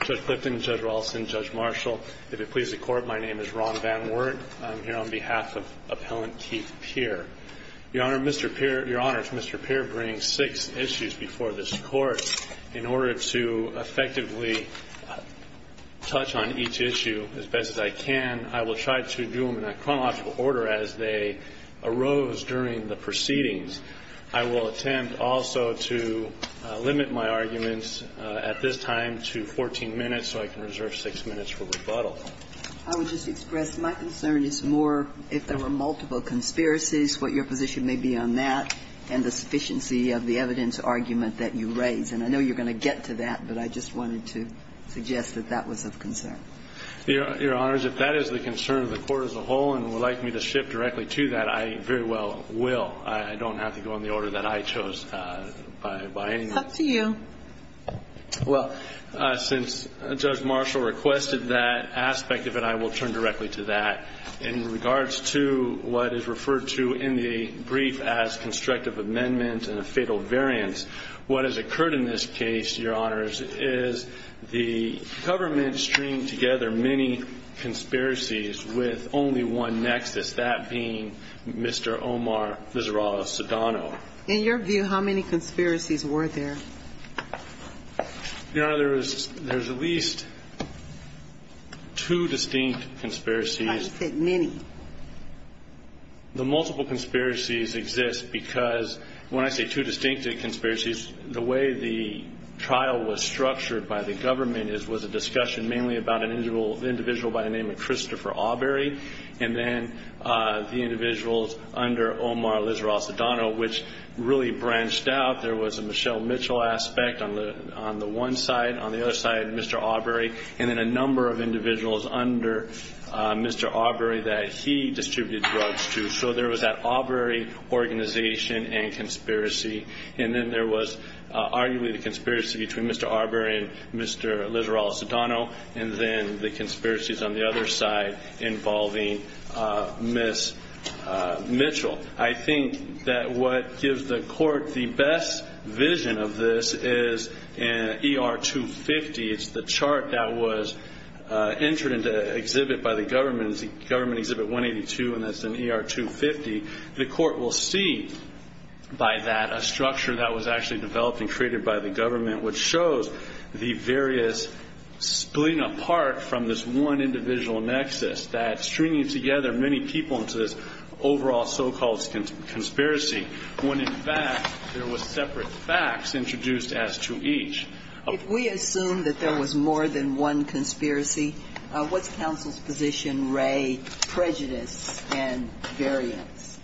Judge Clifton, Judge Raulston, Judge Marshall, if it pleases the Court, my name is Ron Van Wert. I'm here on behalf of Appellant Keith Peer. Your Honor, Mr. Peer brings six issues before this Court. In order to effectively touch on each issue as best as I can, I will try to do them in a chronological order as they arose during the proceedings. I will attempt also to limit my arguments at this time to 14 minutes, so I can reserve six minutes for rebuttal. I would just express my concern is more if there were multiple conspiracies, what your position may be on that, and the sufficiency of the evidence argument that you raise. And I know you're going to get to that, but I just wanted to suggest that that was of concern. Your Honor, if that is the concern of the Court as a whole and would like me to shift directly to that, I very well will. I don't have to go in the order that I chose by any means. It's up to you. Well, since Judge Marshall requested that aspect of it, I will turn directly to that. In regards to what is referred to in the brief as constructive amendment and a fatal variance, what has occurred in this case, Your Honors, is the government streamed together many conspiracies with only one nexus, that being Mr. Omar Vizorado-Sedano. In your view, how many conspiracies were there? Your Honor, there's at least two distinct conspiracies. I said many. The multiple conspiracies exist because when I say two distinct conspiracies, the way the trial was structured by the government was a discussion mainly about an individual by the name of Christopher Awbery and then the individuals under Omar Vizorado-Sedano, which really branched out. There was a Michelle Mitchell aspect on the one side. On the other side, Mr. Awbery. And then a number of individuals under Mr. Awbery that he distributed drugs to. So there was that Awbery organization and conspiracy. And then there was arguably the conspiracy between Mr. Awbery and Mr. Vizorado-Sedano, and then the conspiracies on the other side involving Ms. Mitchell. I think that what gives the court the best vision of this is ER-250. It's the chart that was entered into exhibit by the government. It's the government exhibit 182, and that's an ER-250. The court will see by that a structure that was actually developed and created by the government, which shows the various splitting apart from this one individual nexus, that stringing together many people into this overall so-called conspiracy, when in fact there was separate facts introduced as to each. If we assume that there was more than one conspiracy, what's counsel's position, Ray, prejudice and variance?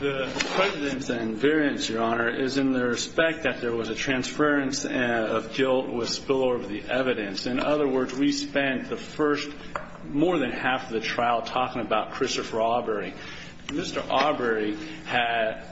The prejudice and variance, Your Honor, is in the respect that there was a transference of guilt with spillover of the evidence. In other words, we spent the first more than half of the trial talking about Christopher Awbery. Mr. Awbery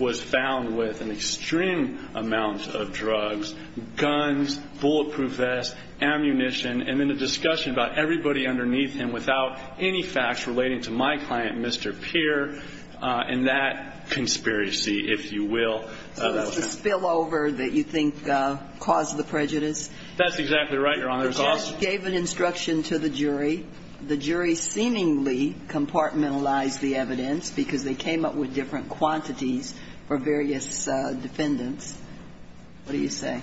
was found with an extreme amount of drugs, guns, bulletproof vests, ammunition, and then a discussion about everybody underneath him without any facts relating to my client, Mr. Peer, and that conspiracy, if you will. So that's the spillover that you think caused the prejudice? That's exactly right, Your Honor. The judge gave an instruction to the jury. The jury seemingly compartmentalized the evidence because they came up with different quantities for various defendants. What do you say?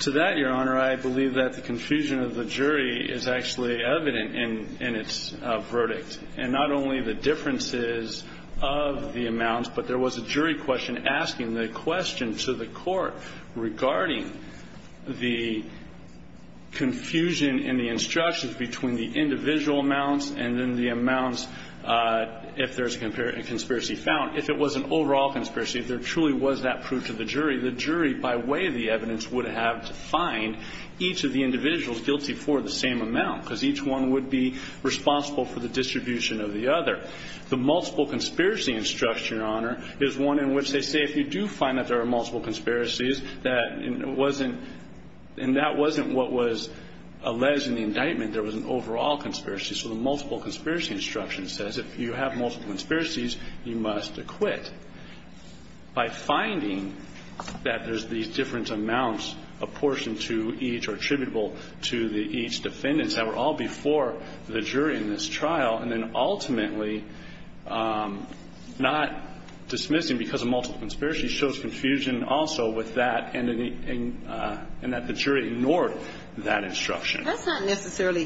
To that, Your Honor, I believe that the confusion of the jury is actually evident in its verdict, and not only the differences of the amounts, but there was a jury question asking the question to the court regarding the confusion in the instructions between the individual amounts and then the amounts, if there's a conspiracy found, if it was an overall conspiracy, if there truly was that proved to the jury, the jury, by way of the evidence, would have to find each of the individuals guilty for the same amount because each one would be responsible for the distribution of the other. The multiple conspiracy instruction, Your Honor, is one in which they say if you do find that there are multiple conspiracies, that it wasn't, and that wasn't what was alleged in the indictment. There was an overall conspiracy. So the multiple conspiracy instruction says if you have multiple conspiracies, you must acquit. That's not necessarily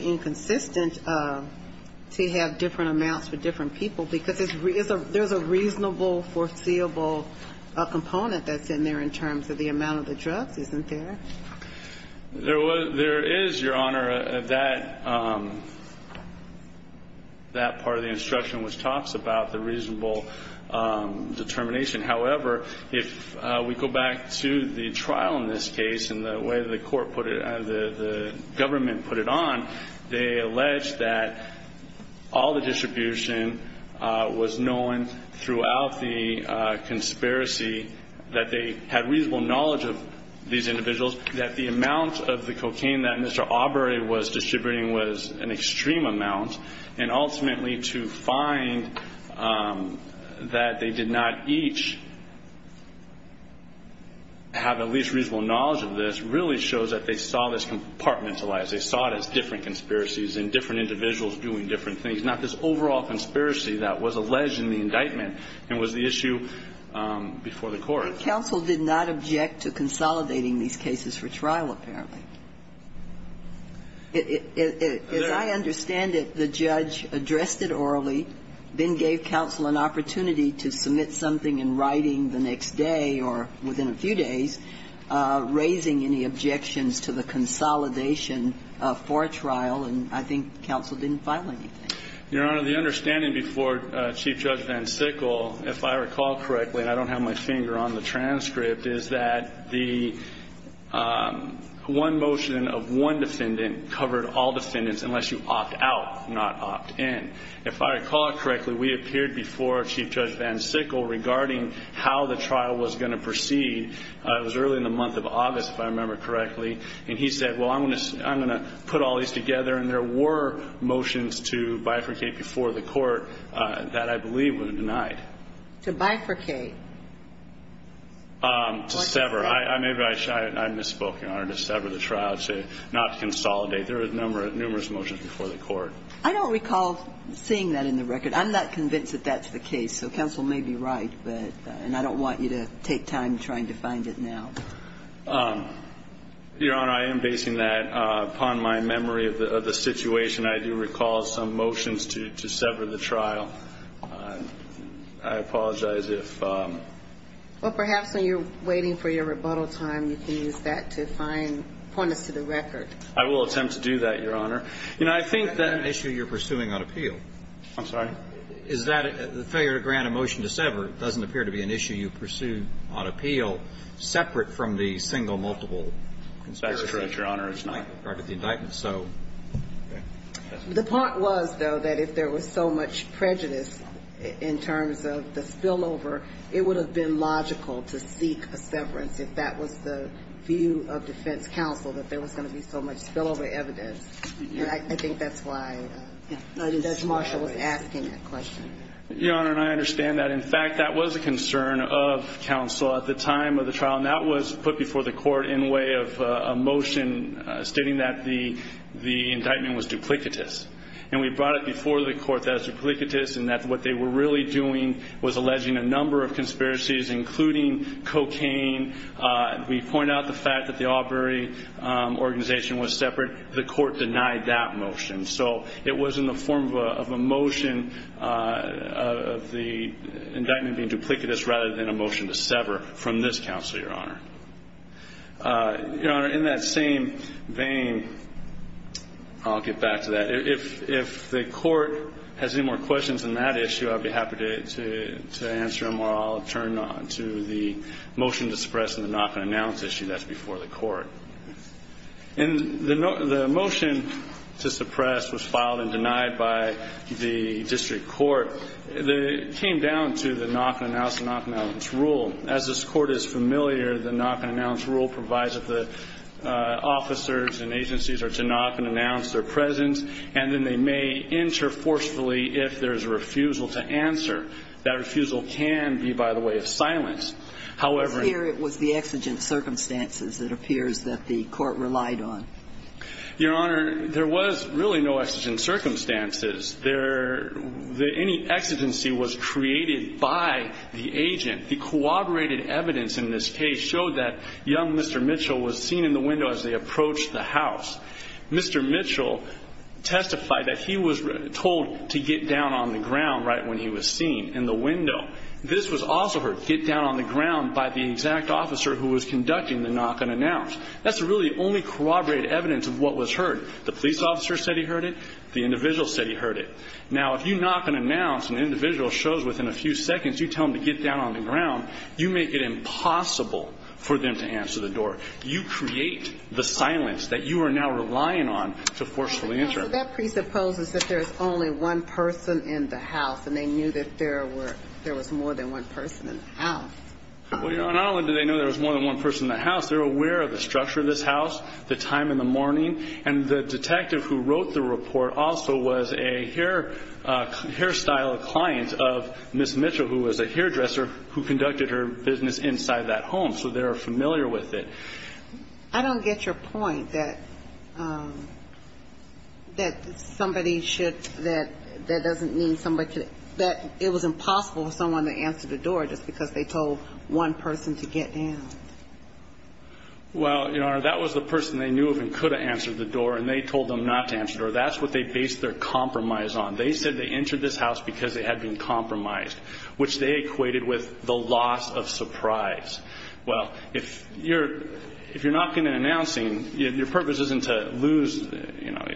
inconsistent to have different amounts for different people, because there's a reasonable, foreseeable component that's in there in terms of the amount of the drugs, isn't there? There is, Your Honor, that part of the instruction which talks about the reasonable determination. However, if we go back to the trial in this case and the way the court put it, the government put it on, they alleged that all the distribution was known throughout the conspiracy, that they had reasonable knowledge of these individuals, that the amount of the cocaine that Mr. Aubrey was distributing was an extreme amount, and ultimately to find that they did not each have at least reasonable knowledge of this really shows that they saw this compartmentalized. They saw it as different conspiracies and different individuals doing different things, not this overall conspiracy that was alleged in the indictment and was the issue before the court. Counsel did not object to consolidating these cases for trial, apparently. As I understand it, the judge addressed it orally, then gave counsel an opportunity to submit something in writing the next day or within a few days, raising any objections to the consolidation for a trial, and I think counsel didn't file anything. Your Honor, the understanding before Chief Judge Van Sickle, if I recall correctly and I don't have my finger on the transcript, is that the one motion of one defendant covered all defendants unless you opt out, not opt in. If I recall correctly, we appeared before Chief Judge Van Sickle regarding how the trial was going to proceed. It was early in the month of August, if I remember correctly, and he said, well, I'm going to put all these together, and there were motions to bifurcate before the court that I believe were denied. To bifurcate? To sever. Maybe I misspoke, Your Honor. To sever the trial, not to consolidate. There were numerous motions before the court. I don't recall seeing that in the record. I'm not convinced that that's the case, so counsel may be right, and I don't want you to take time trying to find it now. Your Honor, I am basing that upon my memory of the situation. I do recall some motions to sever the trial. I apologize if ---- Well, perhaps when you're waiting for your rebuttal time, you can use that to find points to the record. I will attempt to do that, Your Honor. You know, I think that ---- That's not an issue you're pursuing on appeal. I'm sorry? Is that a failure to grant a motion to sever doesn't appear to be an issue you pursue on appeal separate from the single multiple conspiracy. That's correct, Your Honor. It's not part of the indictment. The point was, though, that if there was so much prejudice in terms of the spillover, it would have been logical to seek a severance if that was the view of defense counsel, that there was going to be so much spillover evidence. I think that's why. I think that's why Marshall was asking that question. Your Honor, and I understand that. In fact, that was a concern of counsel at the time of the trial, and that was put before the court in way of a motion stating that the indictment was duplicitous. And we brought it before the court that it was duplicitous and that what they were really doing was alleging a number of conspiracies, including cocaine. We point out the fact that the Aubrey organization was separate. The court denied that motion. So it was in the form of a motion of the indictment being duplicitous rather than a motion to sever from this counsel, Your Honor. Your Honor, in that same vein, I'll get back to that. If the court has any more questions on that issue, I'd be happy to answer them, or I'll turn to the motion to suppress and the knock-and-announce issue. That's before the court. And the motion to suppress was filed and denied by the district court. It came down to the knock-and-announce and knock-and-announce rule. As this Court is familiar, the knock-and-announce rule provides that the officers and agencies are to knock and announce their presence, and then they may enter forcefully if there is a refusal to answer. That refusal can be, by the way, of silence. However ñ It's clear it was the exigent circumstances, it appears, that the court relied on. Your Honor, there was really no exigent circumstances. Any exigency was created by the agent. The corroborated evidence in this case showed that young Mr. Mitchell was seen in the window as they approached the house. Mr. Mitchell testified that he was told to get down on the ground right when he was seen, in the window. This was also heard, get down on the ground, by the exact officer who was conducting the knock-and-announce. That's really the only corroborated evidence of what was heard. The police officer said he heard it. The individual said he heard it. Now, if you knock and announce, and the individual shows within a few seconds, you tell them to get down on the ground, you make it impossible for them to answer the door. You create the silence that you are now relying on to forcefully enter. So that presupposes that there is only one person in the house, and they knew that there was more than one person in the house. Well, Your Honor, not only do they know there was more than one person in the house, they're aware of the structure of this house, the time in the morning, and the detective who wrote the report also was a hairstyle client of Ms. Mitchell, who was a hairdresser, who conducted her business inside that home. So they are familiar with it. I don't get your point that somebody should – that that doesn't mean somebody – that it was impossible for someone to answer the door just because they told one person to get down. Well, Your Honor, that was the person they knew of and could have answered the door, and they told them not to answer the door. That's what they based their compromise on. They said they entered this house because they had been compromised, which they equated with the loss of surprise. Well, if you're knocking and announcing, your purpose isn't to lose –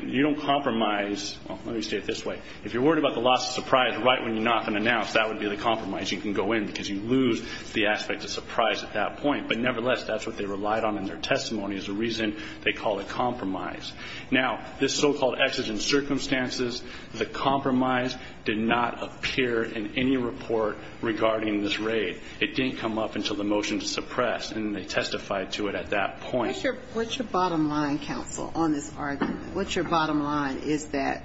you don't compromise. Well, let me say it this way. If you're worried about the loss of surprise right when you knock and announce, that would be the compromise. You can go in because you lose the aspect of surprise at that point. But nevertheless, that's what they relied on in their testimony is the reason they call it compromise. Now, this so-called exigent circumstances, the compromise did not appear in any report regarding this raid. It didn't come up until the motion to suppress, and they testified to it at that point. What's your bottom line, counsel, on this argument? What's your bottom line? Is that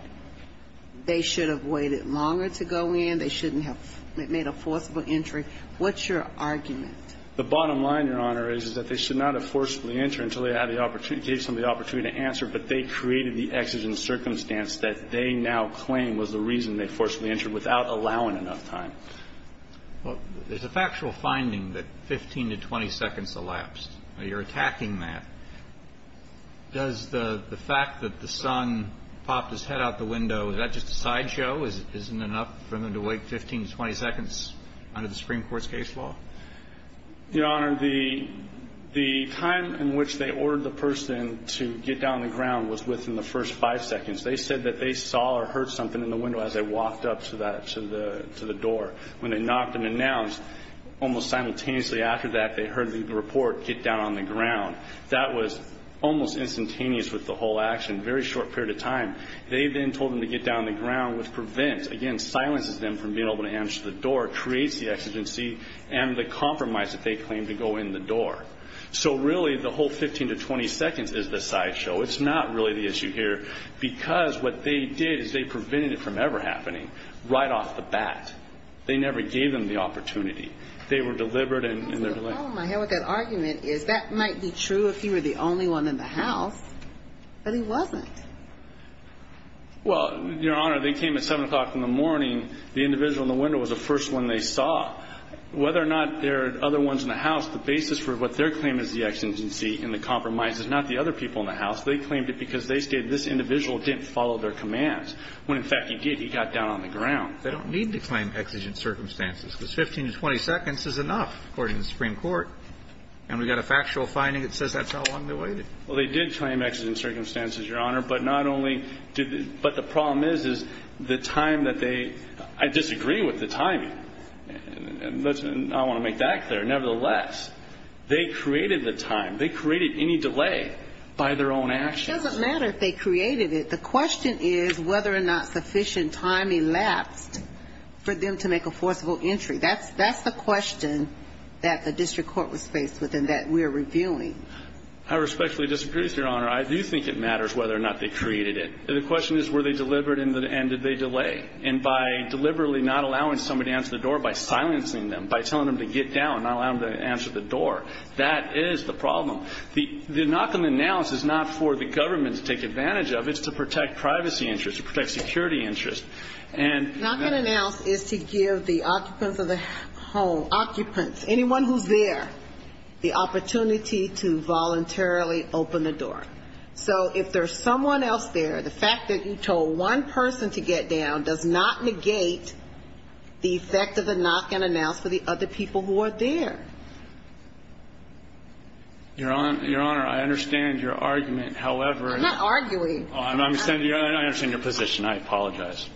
they should have waited longer to go in? They shouldn't have made a forcible entry? What's your argument? The bottom line, Your Honor, is that they should not have forcibly entered until they had the opportunity – gave somebody the opportunity to answer, but they created the exigent circumstance that they now claim was the reason they forcibly entered without allowing enough time. Well, there's a factual finding that 15 to 20 seconds elapsed. You're attacking that. Does the fact that the son popped his head out the window, is that just a sideshow? Isn't it enough for them to wait 15 to 20 seconds under the Supreme Court's case law? Your Honor, the time in which they ordered the person to get down on the ground was within the first five seconds. They said that they saw or heard something in the window as they walked up to the door. When they knocked and announced, almost simultaneously after that, they heard the report, get down on the ground. That was almost instantaneous with the whole action, a very short period of time. They then told them to get down on the ground, which prevents, again, silences them from being able to answer the door, creates the exigency and the compromise that they claim to go in the door. So really, the whole 15 to 20 seconds is the sideshow. It's not really the issue here because what they did is they prevented it from ever happening right off the bat. They never gave them the opportunity. They were deliberate and they're deliberate. The problem I have with that argument is that might be true if he were the only one in the house, but he wasn't. Well, Your Honor, they came at 7 o'clock in the morning. The individual in the window was the first one they saw. Whether or not there are other ones in the house, the basis for what their claim is the exigency and the compromise is not the other people in the house. They claimed it because they stated this individual didn't follow their commands when, in fact, he did. He got down on the ground. They don't need to claim exigent circumstances because 15 to 20 seconds is enough, according to the Supreme Court. And we've got a factual finding that says that's how long they waited. Well, they did claim exigent circumstances, Your Honor, but not only did they – but the problem is, is the time that they – I disagree with the timing. I want to make that clear. Nevertheless, they created the time. They created any delay by their own actions. It doesn't matter if they created it. The question is whether or not sufficient time elapsed for them to make a forcible entry. That's the question that the district court was faced with and that we are reviewing. I respectfully disagree with you, Your Honor. I do think it matters whether or not they created it. The question is, were they deliberate and did they delay? And by deliberately not allowing somebody to answer the door, by silencing them, by telling them to get down, not allowing them to answer the door, that is the problem. The knock-on-announce is not for the government to take advantage of. It's to protect privacy interests, to protect security interests. Knock-on-announce is to give the occupants of the home, occupants, anyone who's there, the opportunity to voluntarily open the door. So if there's someone else there, the fact that you told one person to get down does not negate the effect of the knock-on-announce for the other people who are there. Your Honor, I understand your argument, however. I'm not arguing. I understand your position. I apologize.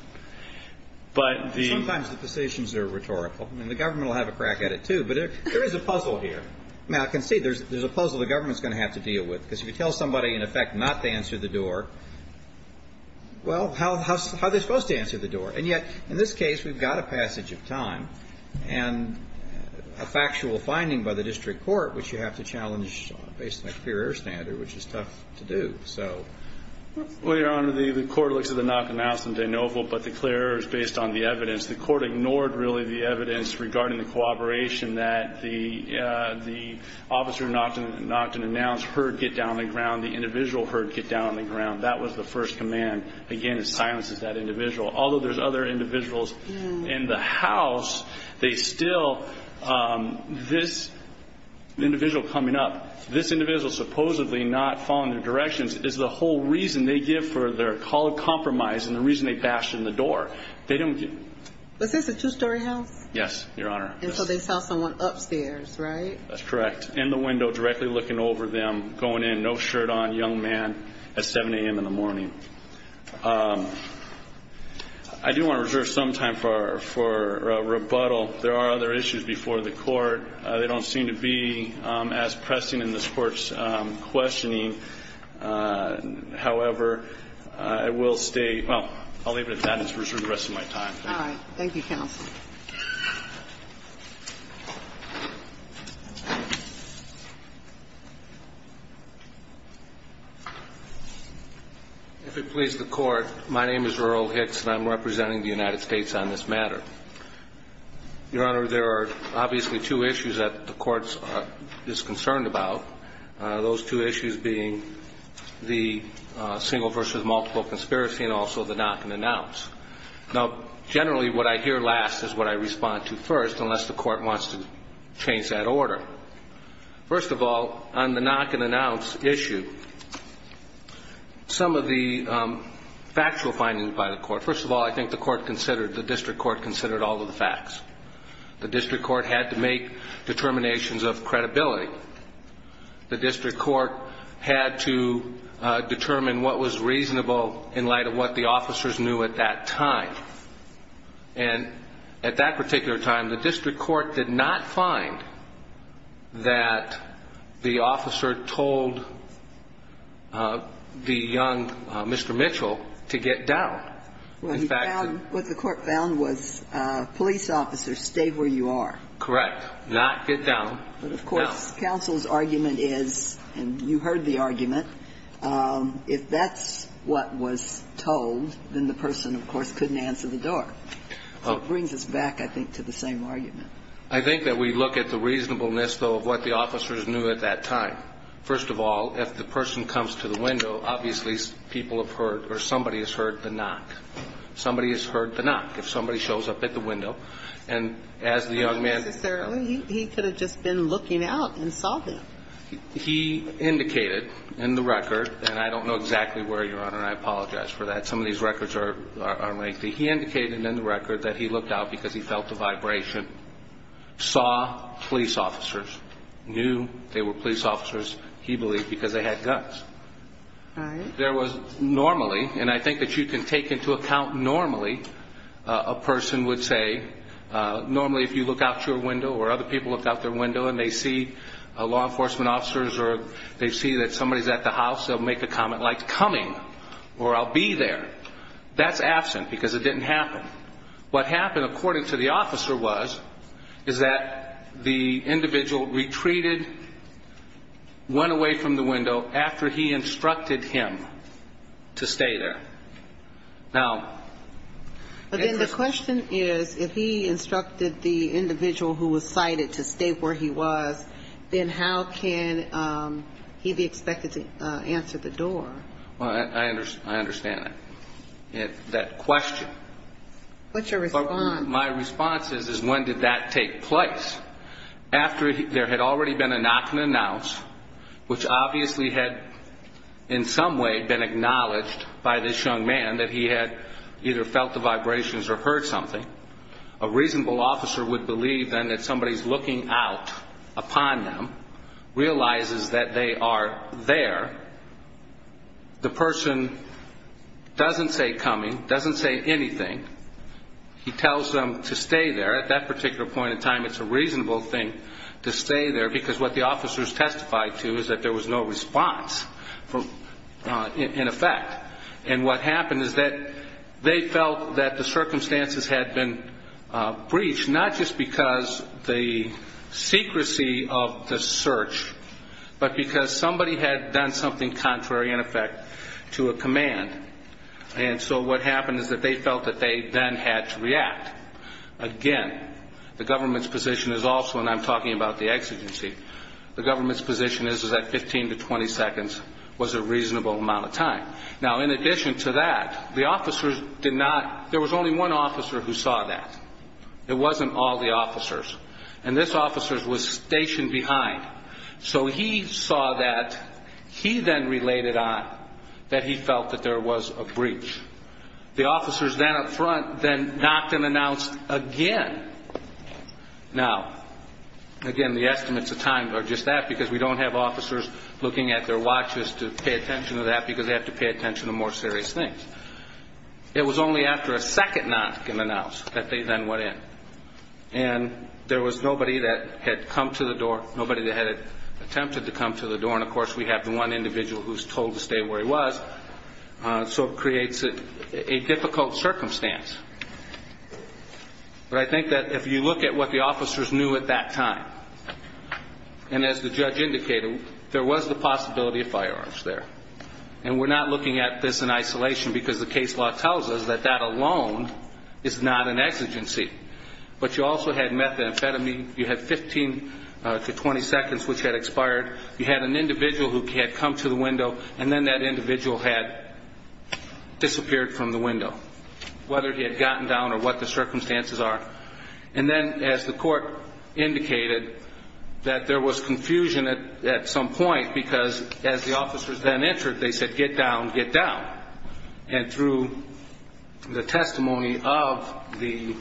But the ---- Sometimes the positions are rhetorical. I mean, the government will have a crack at it, too. But there is a puzzle here. Now, I can see there's a puzzle the government's going to have to deal with, because if you tell somebody, in effect, not to answer the door, well, how are they supposed to answer the door? And yet, in this case, we've got a passage of time and a factual finding by the district court, which you have to challenge based on a clear air standard, which is tough to do. So ---- Well, Your Honor, the court looks at the knock-on-announce in de novo, but the clear air is based on the evidence. The court ignored, really, the evidence regarding the cooperation that the officer knocked and announced, heard get down on the ground, the individual heard get down on the ground. That was the first command. Again, it silences that individual. Although there's other individuals in the house, they still ---- this individual coming up, this individual supposedly not following their directions is the whole reason they give for their call of compromise and the reason they bashed in the door. They don't get ---- Was this a two-story house? Yes, Your Honor. And so they saw someone upstairs, right? That's correct. In the window, directly looking over them, going in, no shirt on, young man, at 7 a.m. in the morning. I do want to reserve some time for rebuttal. There are other issues before the court. They don't seem to be as pressing in this court's questioning. However, I will stay ---- well, I'll leave it at that and just reserve the rest of my time. All right. Thank you, counsel. If it pleases the Court, my name is Earl Hicks and I'm representing the United States on this matter. Your Honor, there are obviously two issues that the Court is concerned about, those two issues being the single versus multiple conspiracy and also the knock-and-announce. Now, generally what I hear last is what I respond to first, unless the Court wants to change that order. First of all, on the knock-and-announce issue, some of the factual findings by the Court, first of all, I think the District Court considered all of the facts. The District Court had to make determinations of credibility. The District Court had to determine what was reasonable in light of what the officers knew at that time. And at that particular time, the District Court did not find that the officer told the young Mr. Mitchell to get down. Well, he found what the Court found was police officers, stay where you are. Correct. Not get down. But of course, counsel's argument is, and you heard the argument, if that's what was told, then the person, of course, couldn't answer the door. So it brings us back, I think, to the same argument. I think that we look at the reasonableness, though, of what the officers knew at that time. First of all, if the person comes to the window, obviously people have heard or somebody has heard the knock. Somebody has heard the knock. If somebody shows up at the window and as the young man knocked on the door, he could have just been looking out and saw them. He indicated in the record, and I don't know exactly where, Your Honor, and I apologize for that. Some of these records are lengthy. He indicated in the record that he looked out because he felt the vibration, saw police officers, knew they were police officers, he believed, because they had guns. All right. There was normally, and I think that you can take into account normally, a person would say, normally if you look out your window or other people look out their window and they see law enforcement officers or they see that somebody is at the house, they'll make a comment like, coming, or I'll be there. That's absent because it didn't happen. What happened, according to the officer, was, is that the individual retreated, went away from the window after he instructed him to stay there. Now, But then the question is, if he instructed the individual who was cited to stay where he was, then how can he be expected to answer the door? Well, I understand that question. What's your response? My response is, is when did that take place? After there had already been a knock and announce, which obviously had in some way been acknowledged by this young man that he had either felt the vibrations or heard something, a reasonable officer would believe then that somebody is looking out upon them, realizes that they are there. The person doesn't say coming, doesn't say anything. He tells them to stay there. At that particular point in time, it's a reasonable thing to stay there because what the officers testified to is that there was no response in effect. And what happened is that they felt that the circumstances had been breached, not just because the secrecy of the search, but because somebody had done something contrary, in effect, to a command. And so what happened is that they felt that they then had to react. Again, the government's position is also, and I'm talking about the exigency, the government's position is that 15 to 20 seconds was a reasonable amount of time. Now, in addition to that, the officers did not, there was only one officer who saw that. It wasn't all the officers. And this officer was stationed behind. So he saw that. He then related on that he felt that there was a breach. The officers then up front then knocked and announced again. Now, again, the estimates of time are just that because we don't have officers looking at their watches to pay attention to that because they have to pay attention to more serious things. It was only after a second knock and announce that they then went in. And there was nobody that had come to the door, nobody that had attempted to come to the door. And, of course, we have the one individual who's told to stay where he was. So it creates a difficult circumstance. But I think that if you look at what the officers knew at that time, and as the judge indicated, there was the possibility of firearms there. And we're not looking at this in isolation because the case law tells us that that alone is not an exigency. But you also had methamphetamine. You had 15 to 20 seconds, which had expired. You had an individual who had come to the window, and then that individual had disappeared from the window, whether he had gotten down or what the circumstances are. And then, as the court indicated, that there was confusion at some point because as the officers then entered, they said, get down, get down. And through the testimony of the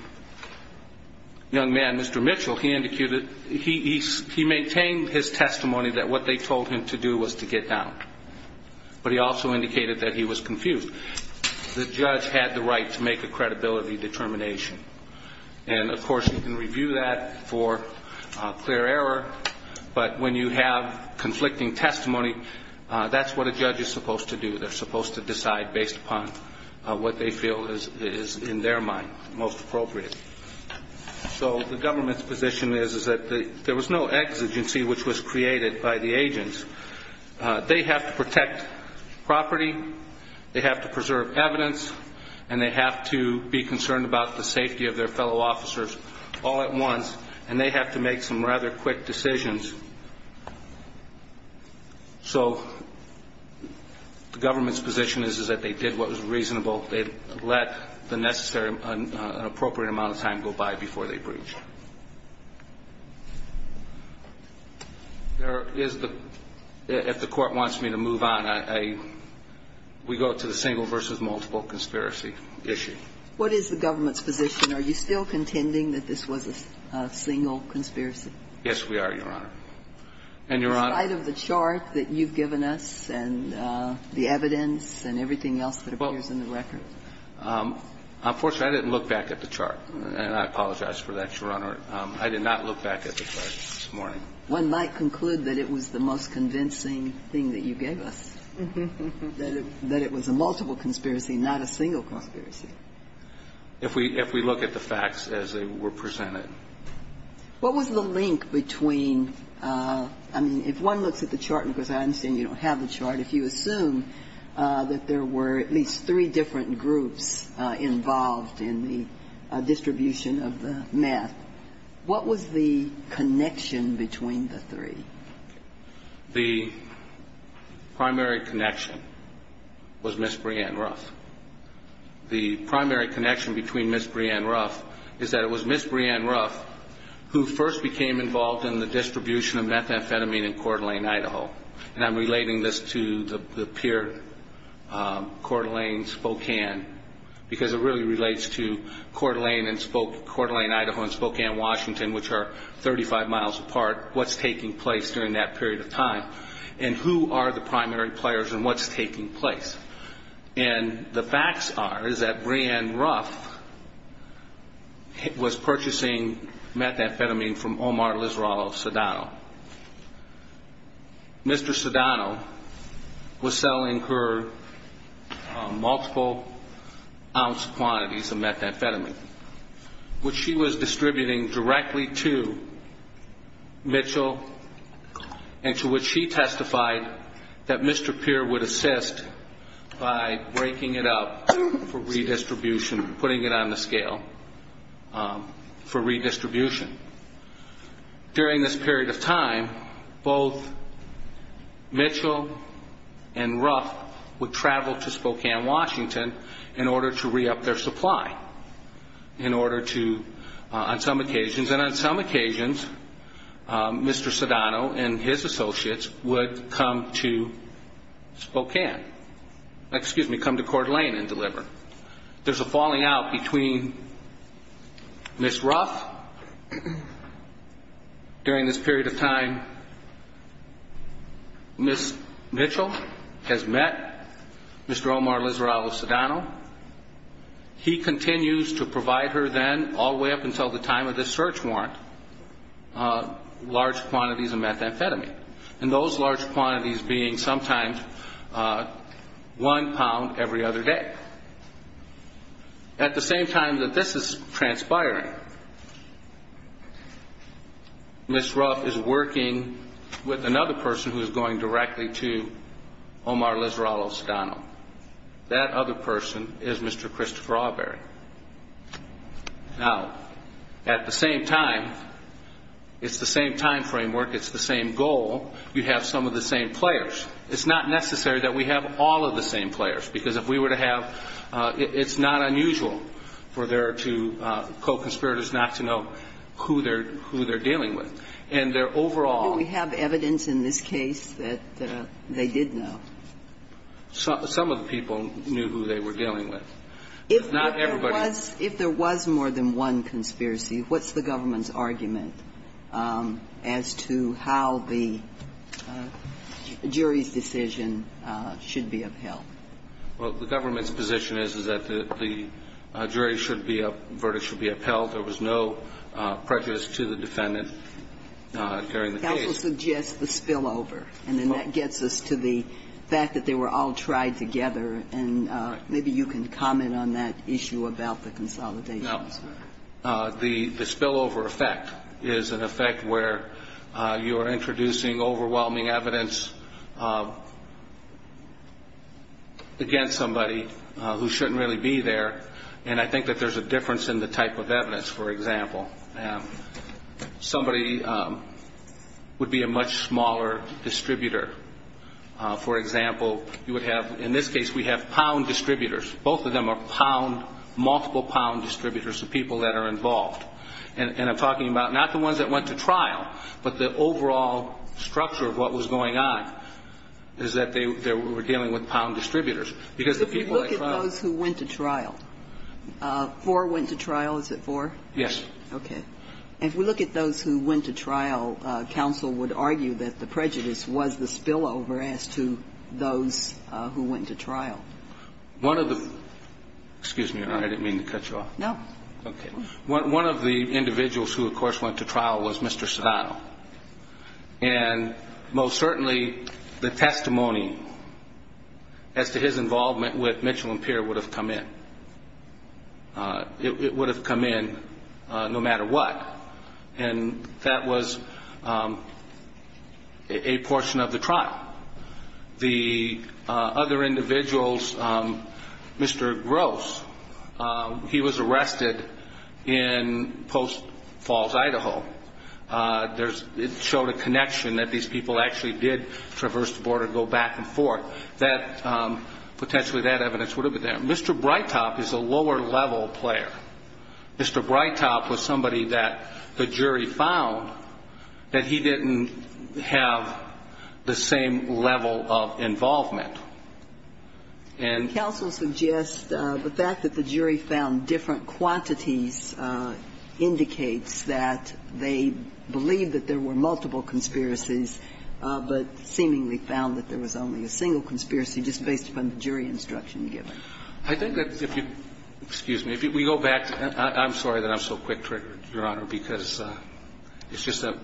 young man, Mr. Mitchell, he maintained his testimony that what they told him to do was to get down. But he also indicated that he was confused. The judge had the right to make a credibility determination. And, of course, you can review that for clear error, but when you have conflicting testimony, that's what a judge is supposed to do. They're supposed to decide based upon what they feel is in their mind most appropriate. So the government's position is that there was no exigency which was created by the agents. They have to protect property. They have to preserve evidence. And they have to be concerned about the safety of their fellow officers all at once. And they have to make some rather quick decisions. So the government's position is that they did what was reasonable. They let the necessary and appropriate amount of time go by before they breached. If the court wants me to move on, we go to the single versus multiple conspiracy issue. What is the government's position? Are you still contending that this was a single conspiracy? Yes, we are, Your Honor. And, Your Honor. Is there any evidence that you can provide of the chart that you've given us and the evidence and everything else that appears in the record? Unfortunately, I didn't look back at the chart. And I apologize for that, Your Honor. I did not look back at the chart this morning. One might conclude that it was the most convincing thing that you gave us, that it was a multiple conspiracy, not a single conspiracy. If we look at the facts as they were presented. What was the link between, I mean, if one looks at the chart, because I understand you don't have the chart, if you assume that there were at least three different groups involved in the distribution of the meth, what was the connection between the three? The primary connection was Ms. Breanne Ruff. The primary connection between Ms. Breanne Ruff is that it was Ms. Breanne Ruff who first became involved in the distribution of methamphetamine in Coeur d'Alene, Idaho. And I'm relating this to the pier, Coeur d'Alene, Spokane, because it really relates to Coeur d'Alene, Idaho, and Spokane, Washington, which are 35 miles apart, what's taking place during that period of time, and who are the primary players and what's taking place. And the facts are is that Breanne Ruff was purchasing methamphetamine from Omar Lizarra of Sedano. Mr. Sedano was selling her multiple ounce quantities of methamphetamine, which she was distributing directly to Mitchell, and to which she testified that Mr. Peer would assist by breaking it up for redistribution, putting it on the scale for redistribution. During this period of time, both Mitchell and Ruff would travel to Spokane, Washington, in order to re-up their supply, in order to, on some occasions, Mr. Sedano and his associates would come to Spokane, excuse me, come to Coeur d'Alene and deliver. There's a falling out between Ms. Ruff during this period of time. Ms. Mitchell has met Mr. Omar Lizarra of Sedano. He continues to provide her then, all the way up until the time of this search warrant, large quantities of methamphetamine, and those large quantities being sometimes one pound every other day. At the same time that this is transpiring, Ms. Ruff is working with another person who is going directly to Omar Lizarra of Sedano. That other person is Mr. Christopher Awberry. Now, at the same time, it's the same time framework, it's the same goal, you have some of the same players. It's not necessary that we have all of the same players, because if we were to have ñ it's not unusual for their two co-conspirators not to know who they're dealing with. And their overall ñ Do we have evidence in this case that they did know? Some of the people knew who they were dealing with. If there was more than one conspiracy, what's the government's argument as to how the jury's decision should be upheld? Well, the government's position is that the jury's verdict should be upheld. There was no prejudice to the defendant during the case. Counsel suggests the spillover, and then that gets us to the fact that they were all tried together. And maybe you can comment on that issue about the consolidations. No. The spillover effect is an effect where you are introducing overwhelming evidence, against somebody who shouldn't really be there. And I think that there's a difference in the type of evidence, for example. Somebody would be a much smaller distributor. For example, you would have ñ in this case, we have pound distributors. Both of them are pound, multiple pound distributors, the people that are involved. And I'm talking about not the ones that went to trial, but the overall structure of what was going on, is that they were dealing with pound distributors. Because if you look at those who went to trial, four went to trial, is it four? Yes. Okay. If we look at those who went to trial, counsel would argue that the prejudice was the spillover as to those who went to trial. One of the ñ excuse me, Your Honor, I didn't mean to cut you off. No. Okay. One of the individuals who, of course, went to trial was Mr. Serrano. And most certainly the testimony as to his involvement with Mitchell & Pierre would have come in. It would have come in no matter what. And that was a portion of the trial. The other individuals, Mr. Gross, he was arrested in Post Falls, Idaho. It showed a connection that these people actually did traverse the border, go back and forth, that potentially that evidence would have been there. Mr. Breitop is a lower level player. Mr. Breitop was somebody that the jury found that he didn't have the same level of involvement. And ñ Counsel suggests the fact that the jury found different quantities indicates that they believe that there were multiple conspiracies, but seemingly found that there was only a single conspiracy just based upon the jury instruction given. I think that if you ñ excuse me. If we go back ñ I'm sorry that I'm so quick-triggered, Your Honor, because it's just that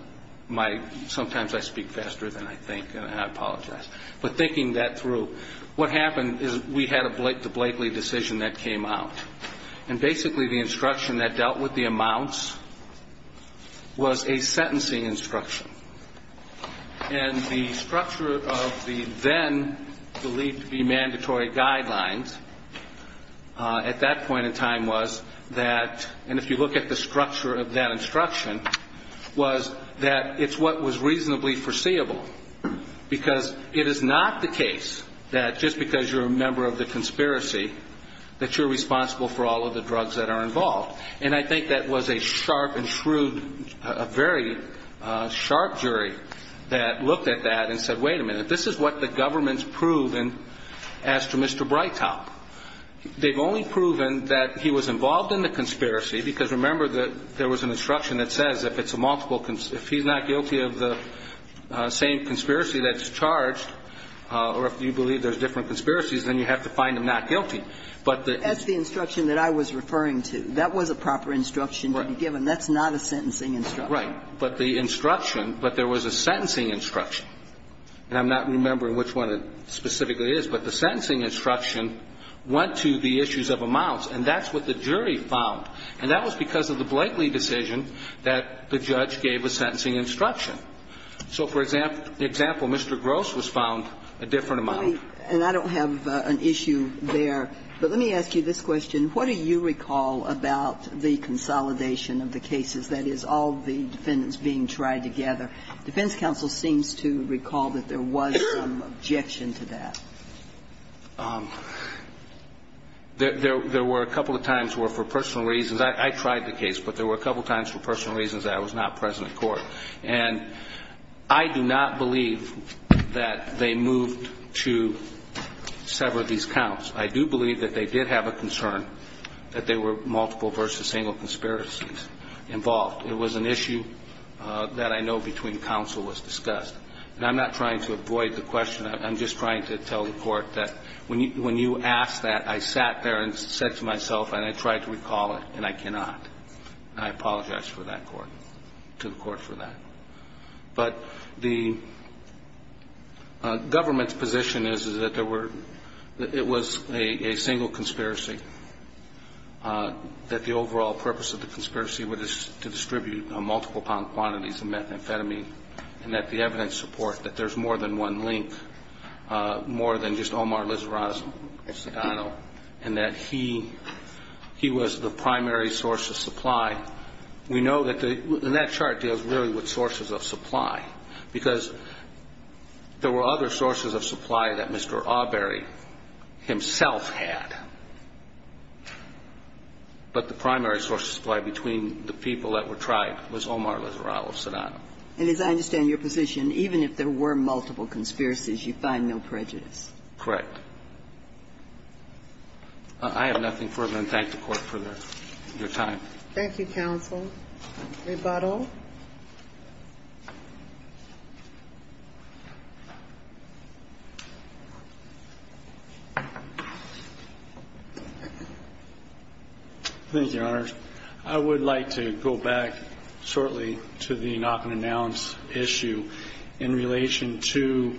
my ñ sometimes I speak faster than I think, and I apologize. But thinking that through, what happened is we had a Blake to Blakely decision that came out. And basically the instruction that dealt with the amounts was a sentencing instruction. And the structure of the then believed to be mandatory guidelines at that point in time was that ñ and if you look at the structure of that instruction, was that it's what was reasonably foreseeable. Because it is not the case that just because you're a member of the conspiracy that you're responsible for all of the drugs that are involved. And I think that was a sharp and shrewd ñ a very sharp jury that looked at that and said, wait a minute, this is what the government's proven as to Mr. Breitopp. They've only proven that he was involved in the conspiracy, because remember that there was an instruction that says if it's a multiple ñ if he's not guilty of the same conspiracy that's charged, or if you believe there's different conspiracies, then you have to find him not guilty. But the ñ That's the instruction that I was referring to. That was a proper instruction to be given. That's not a sentencing instruction. Right. But the instruction ñ but there was a sentencing instruction. And I'm not remembering which one it specifically is. But the sentencing instruction went to the issues of amounts. And that's what the jury found. And that was because of the Blakely decision that the judge gave a sentencing instruction. So, for example, Mr. Gross was found a different amount. And I don't have an issue there, but let me ask you this question. What do you recall about the consolidation of the cases, that is, all the defendants being tried together? Defense counsel seems to recall that there was some objection to that. There were a couple of times where for personal reasons ñ I tried the case, but there were a couple of times for personal reasons that I was not present at court. And I do not believe that they moved to sever these counts. I do believe that they did have a concern that there were multiple versus single conspiracies involved. It was an issue that I know between counsel was discussed. And I'm not trying to avoid the question. I'm just trying to tell the court that when you asked that, I sat there and said to myself, and I tried to recall it, and I cannot. And I apologize to the court for that. But the government's position is that it was a single conspiracy, that the overall purpose of the conspiracy was to distribute multiple quantities of methamphetamine, and that the evidence support that there's more than one link, more than just Omar And as I understand your position, even if there were multiple conspiracies, you find no prejudice. Correct. I have nothing further, and thank the Court for that. Your time. Thank you, counsel. Rebuttal. Thank you, Your Honor. I would like to go back shortly to the not-going-to-announce issue in relation to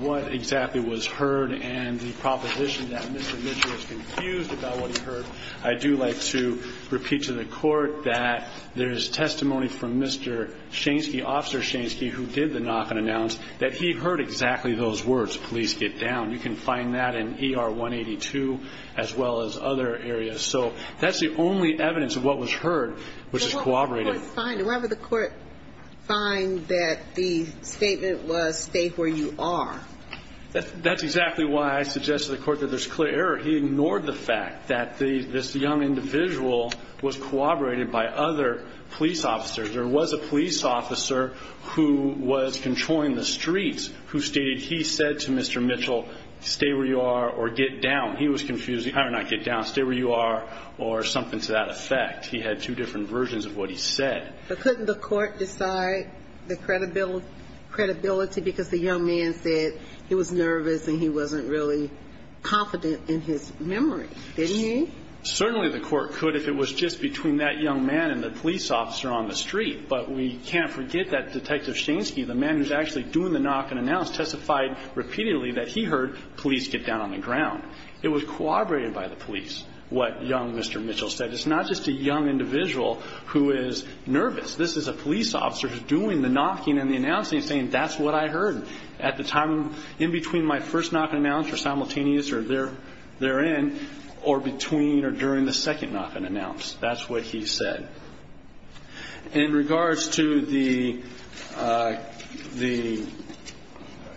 what exactly was heard and the proposition that Mr. Mitchell is confused about what he heard. I do like to repeat to the Court that there is testimony from Mr. Shansky, Officer Shansky, who did the not-going-to-announce, that he heard exactly those words, please get down. You can find that in ER 182, as well as other areas. So that's the only evidence of what was heard, which is corroborated. But what would the Court find? Why would the Court find that the statement was, stay where you are? That's exactly why I suggested to the Court that there's clear error. He ignored the fact that this young individual was corroborated by other police officers. There was a police officer who was controlling the streets who stated he said to Mr. Mitchell, stay where you are or get down. He was confused. I don't know, get down, stay where you are, or something to that effect. He had two different versions of what he said. But couldn't the Court decide the credibility because the young man said he was really confident in his memory, didn't he? Certainly the Court could if it was just between that young man and the police officer on the street. But we can't forget that Detective Shansky, the man who's actually doing the knock-and-announce, testified repeatedly that he heard, please get down on the ground. It was corroborated by the police, what young Mr. Mitchell said. It's not just a young individual who is nervous. This is a police officer who's doing the knocking and the announcing, saying that's what I heard. At the time in between my first knock-and-announce or simultaneous or therein or between or during the second knock-and-announce. That's what he said. In regards to the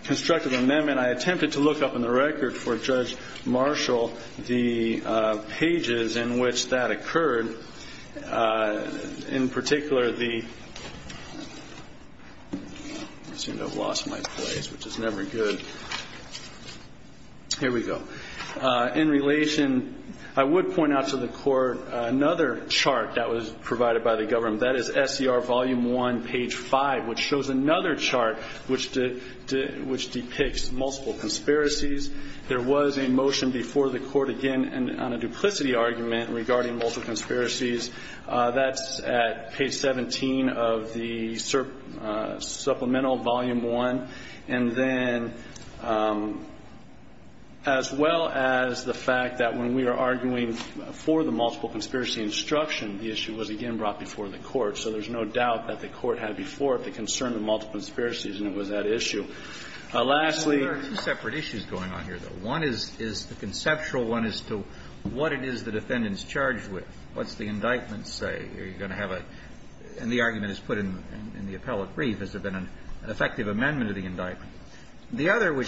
constructive amendment, I attempted to look up in the record for Judge Marshall the pages in which that occurred. In particular, the, I seem to have lost my place, which is never good. Here we go. In relation, I would point out to the Court another chart that was provided by the government. That is SCR Volume 1, page 5, which shows another chart which depicts multiple conspiracies. There was a motion before the Court again on a duplicity argument regarding multiple conspiracies. That's at page 17 of the supplemental Volume 1. And then as well as the fact that when we are arguing for the multiple conspiracy instruction, the issue was again brought before the Court. So there's no doubt that the Court had before it the concern of multiple conspiracies, and it was that issue. Lastly. There are two separate issues going on here, though. One is the conceptual one as to what it is the defendants charged with. What's the indictment say? Are you going to have a – and the argument is put in the appellate brief. Has there been an effective amendment of the indictment? The other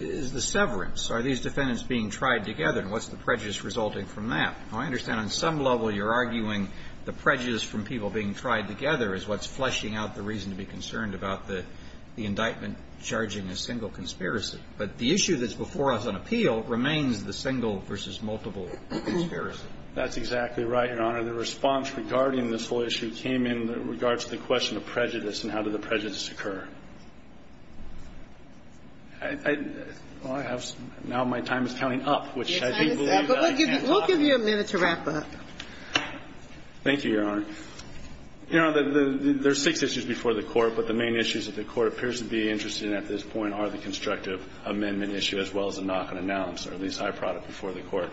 is the severance. Are these defendants being tried together, and what's the prejudice resulting from that? Now, I understand on some level you're arguing the prejudice from people being tried together is what's fleshing out the reason to be concerned about the indictment charging a single conspiracy. But the issue that's before us on appeal remains the single versus multiple conspiracy. That's exactly right, Your Honor. The response regarding this whole issue came in regards to the question of prejudice and how did the prejudice occur. I have – now my time is counting up, which I do believe that I can't talk. We'll give you a minute to wrap up. Thank you, Your Honor. You know, there's six issues before the Court, but the main issues that the Court appears to be interested in at this point are the constructive amendment issue as well as the knock-and-announce or at least high product before the Court.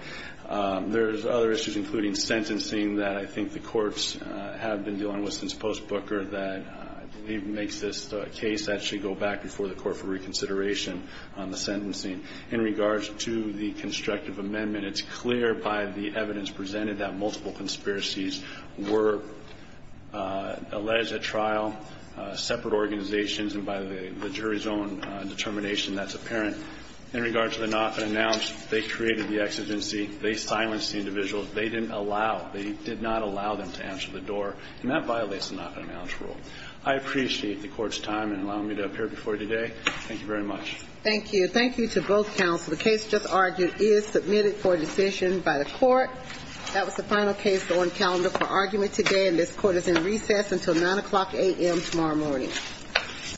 There's other issues, including sentencing, that I think the courts have been dealing with since post-Booker that I believe makes this case actually go back before the Court for reconsideration on the sentencing. In regards to the constructive amendment, it's clear by the evidence presented that multiple conspiracies were alleged at trial, separate organizations, and by the jury's own determination that's apparent. In regards to the knock-and-announce, they created the exigency. They silenced the individuals. They didn't allow – they did not allow them to answer the door, and that violates the knock-and-announce rule. I appreciate the Court's time in allowing me to appear before you today. Thank you very much. Thank you. Thank you to both counsel. The case just argued is submitted for decision by the Court. That was the final case on calendar for argument today, and this Court is in recess until 9 o'clock a.m. tomorrow morning. Thank you.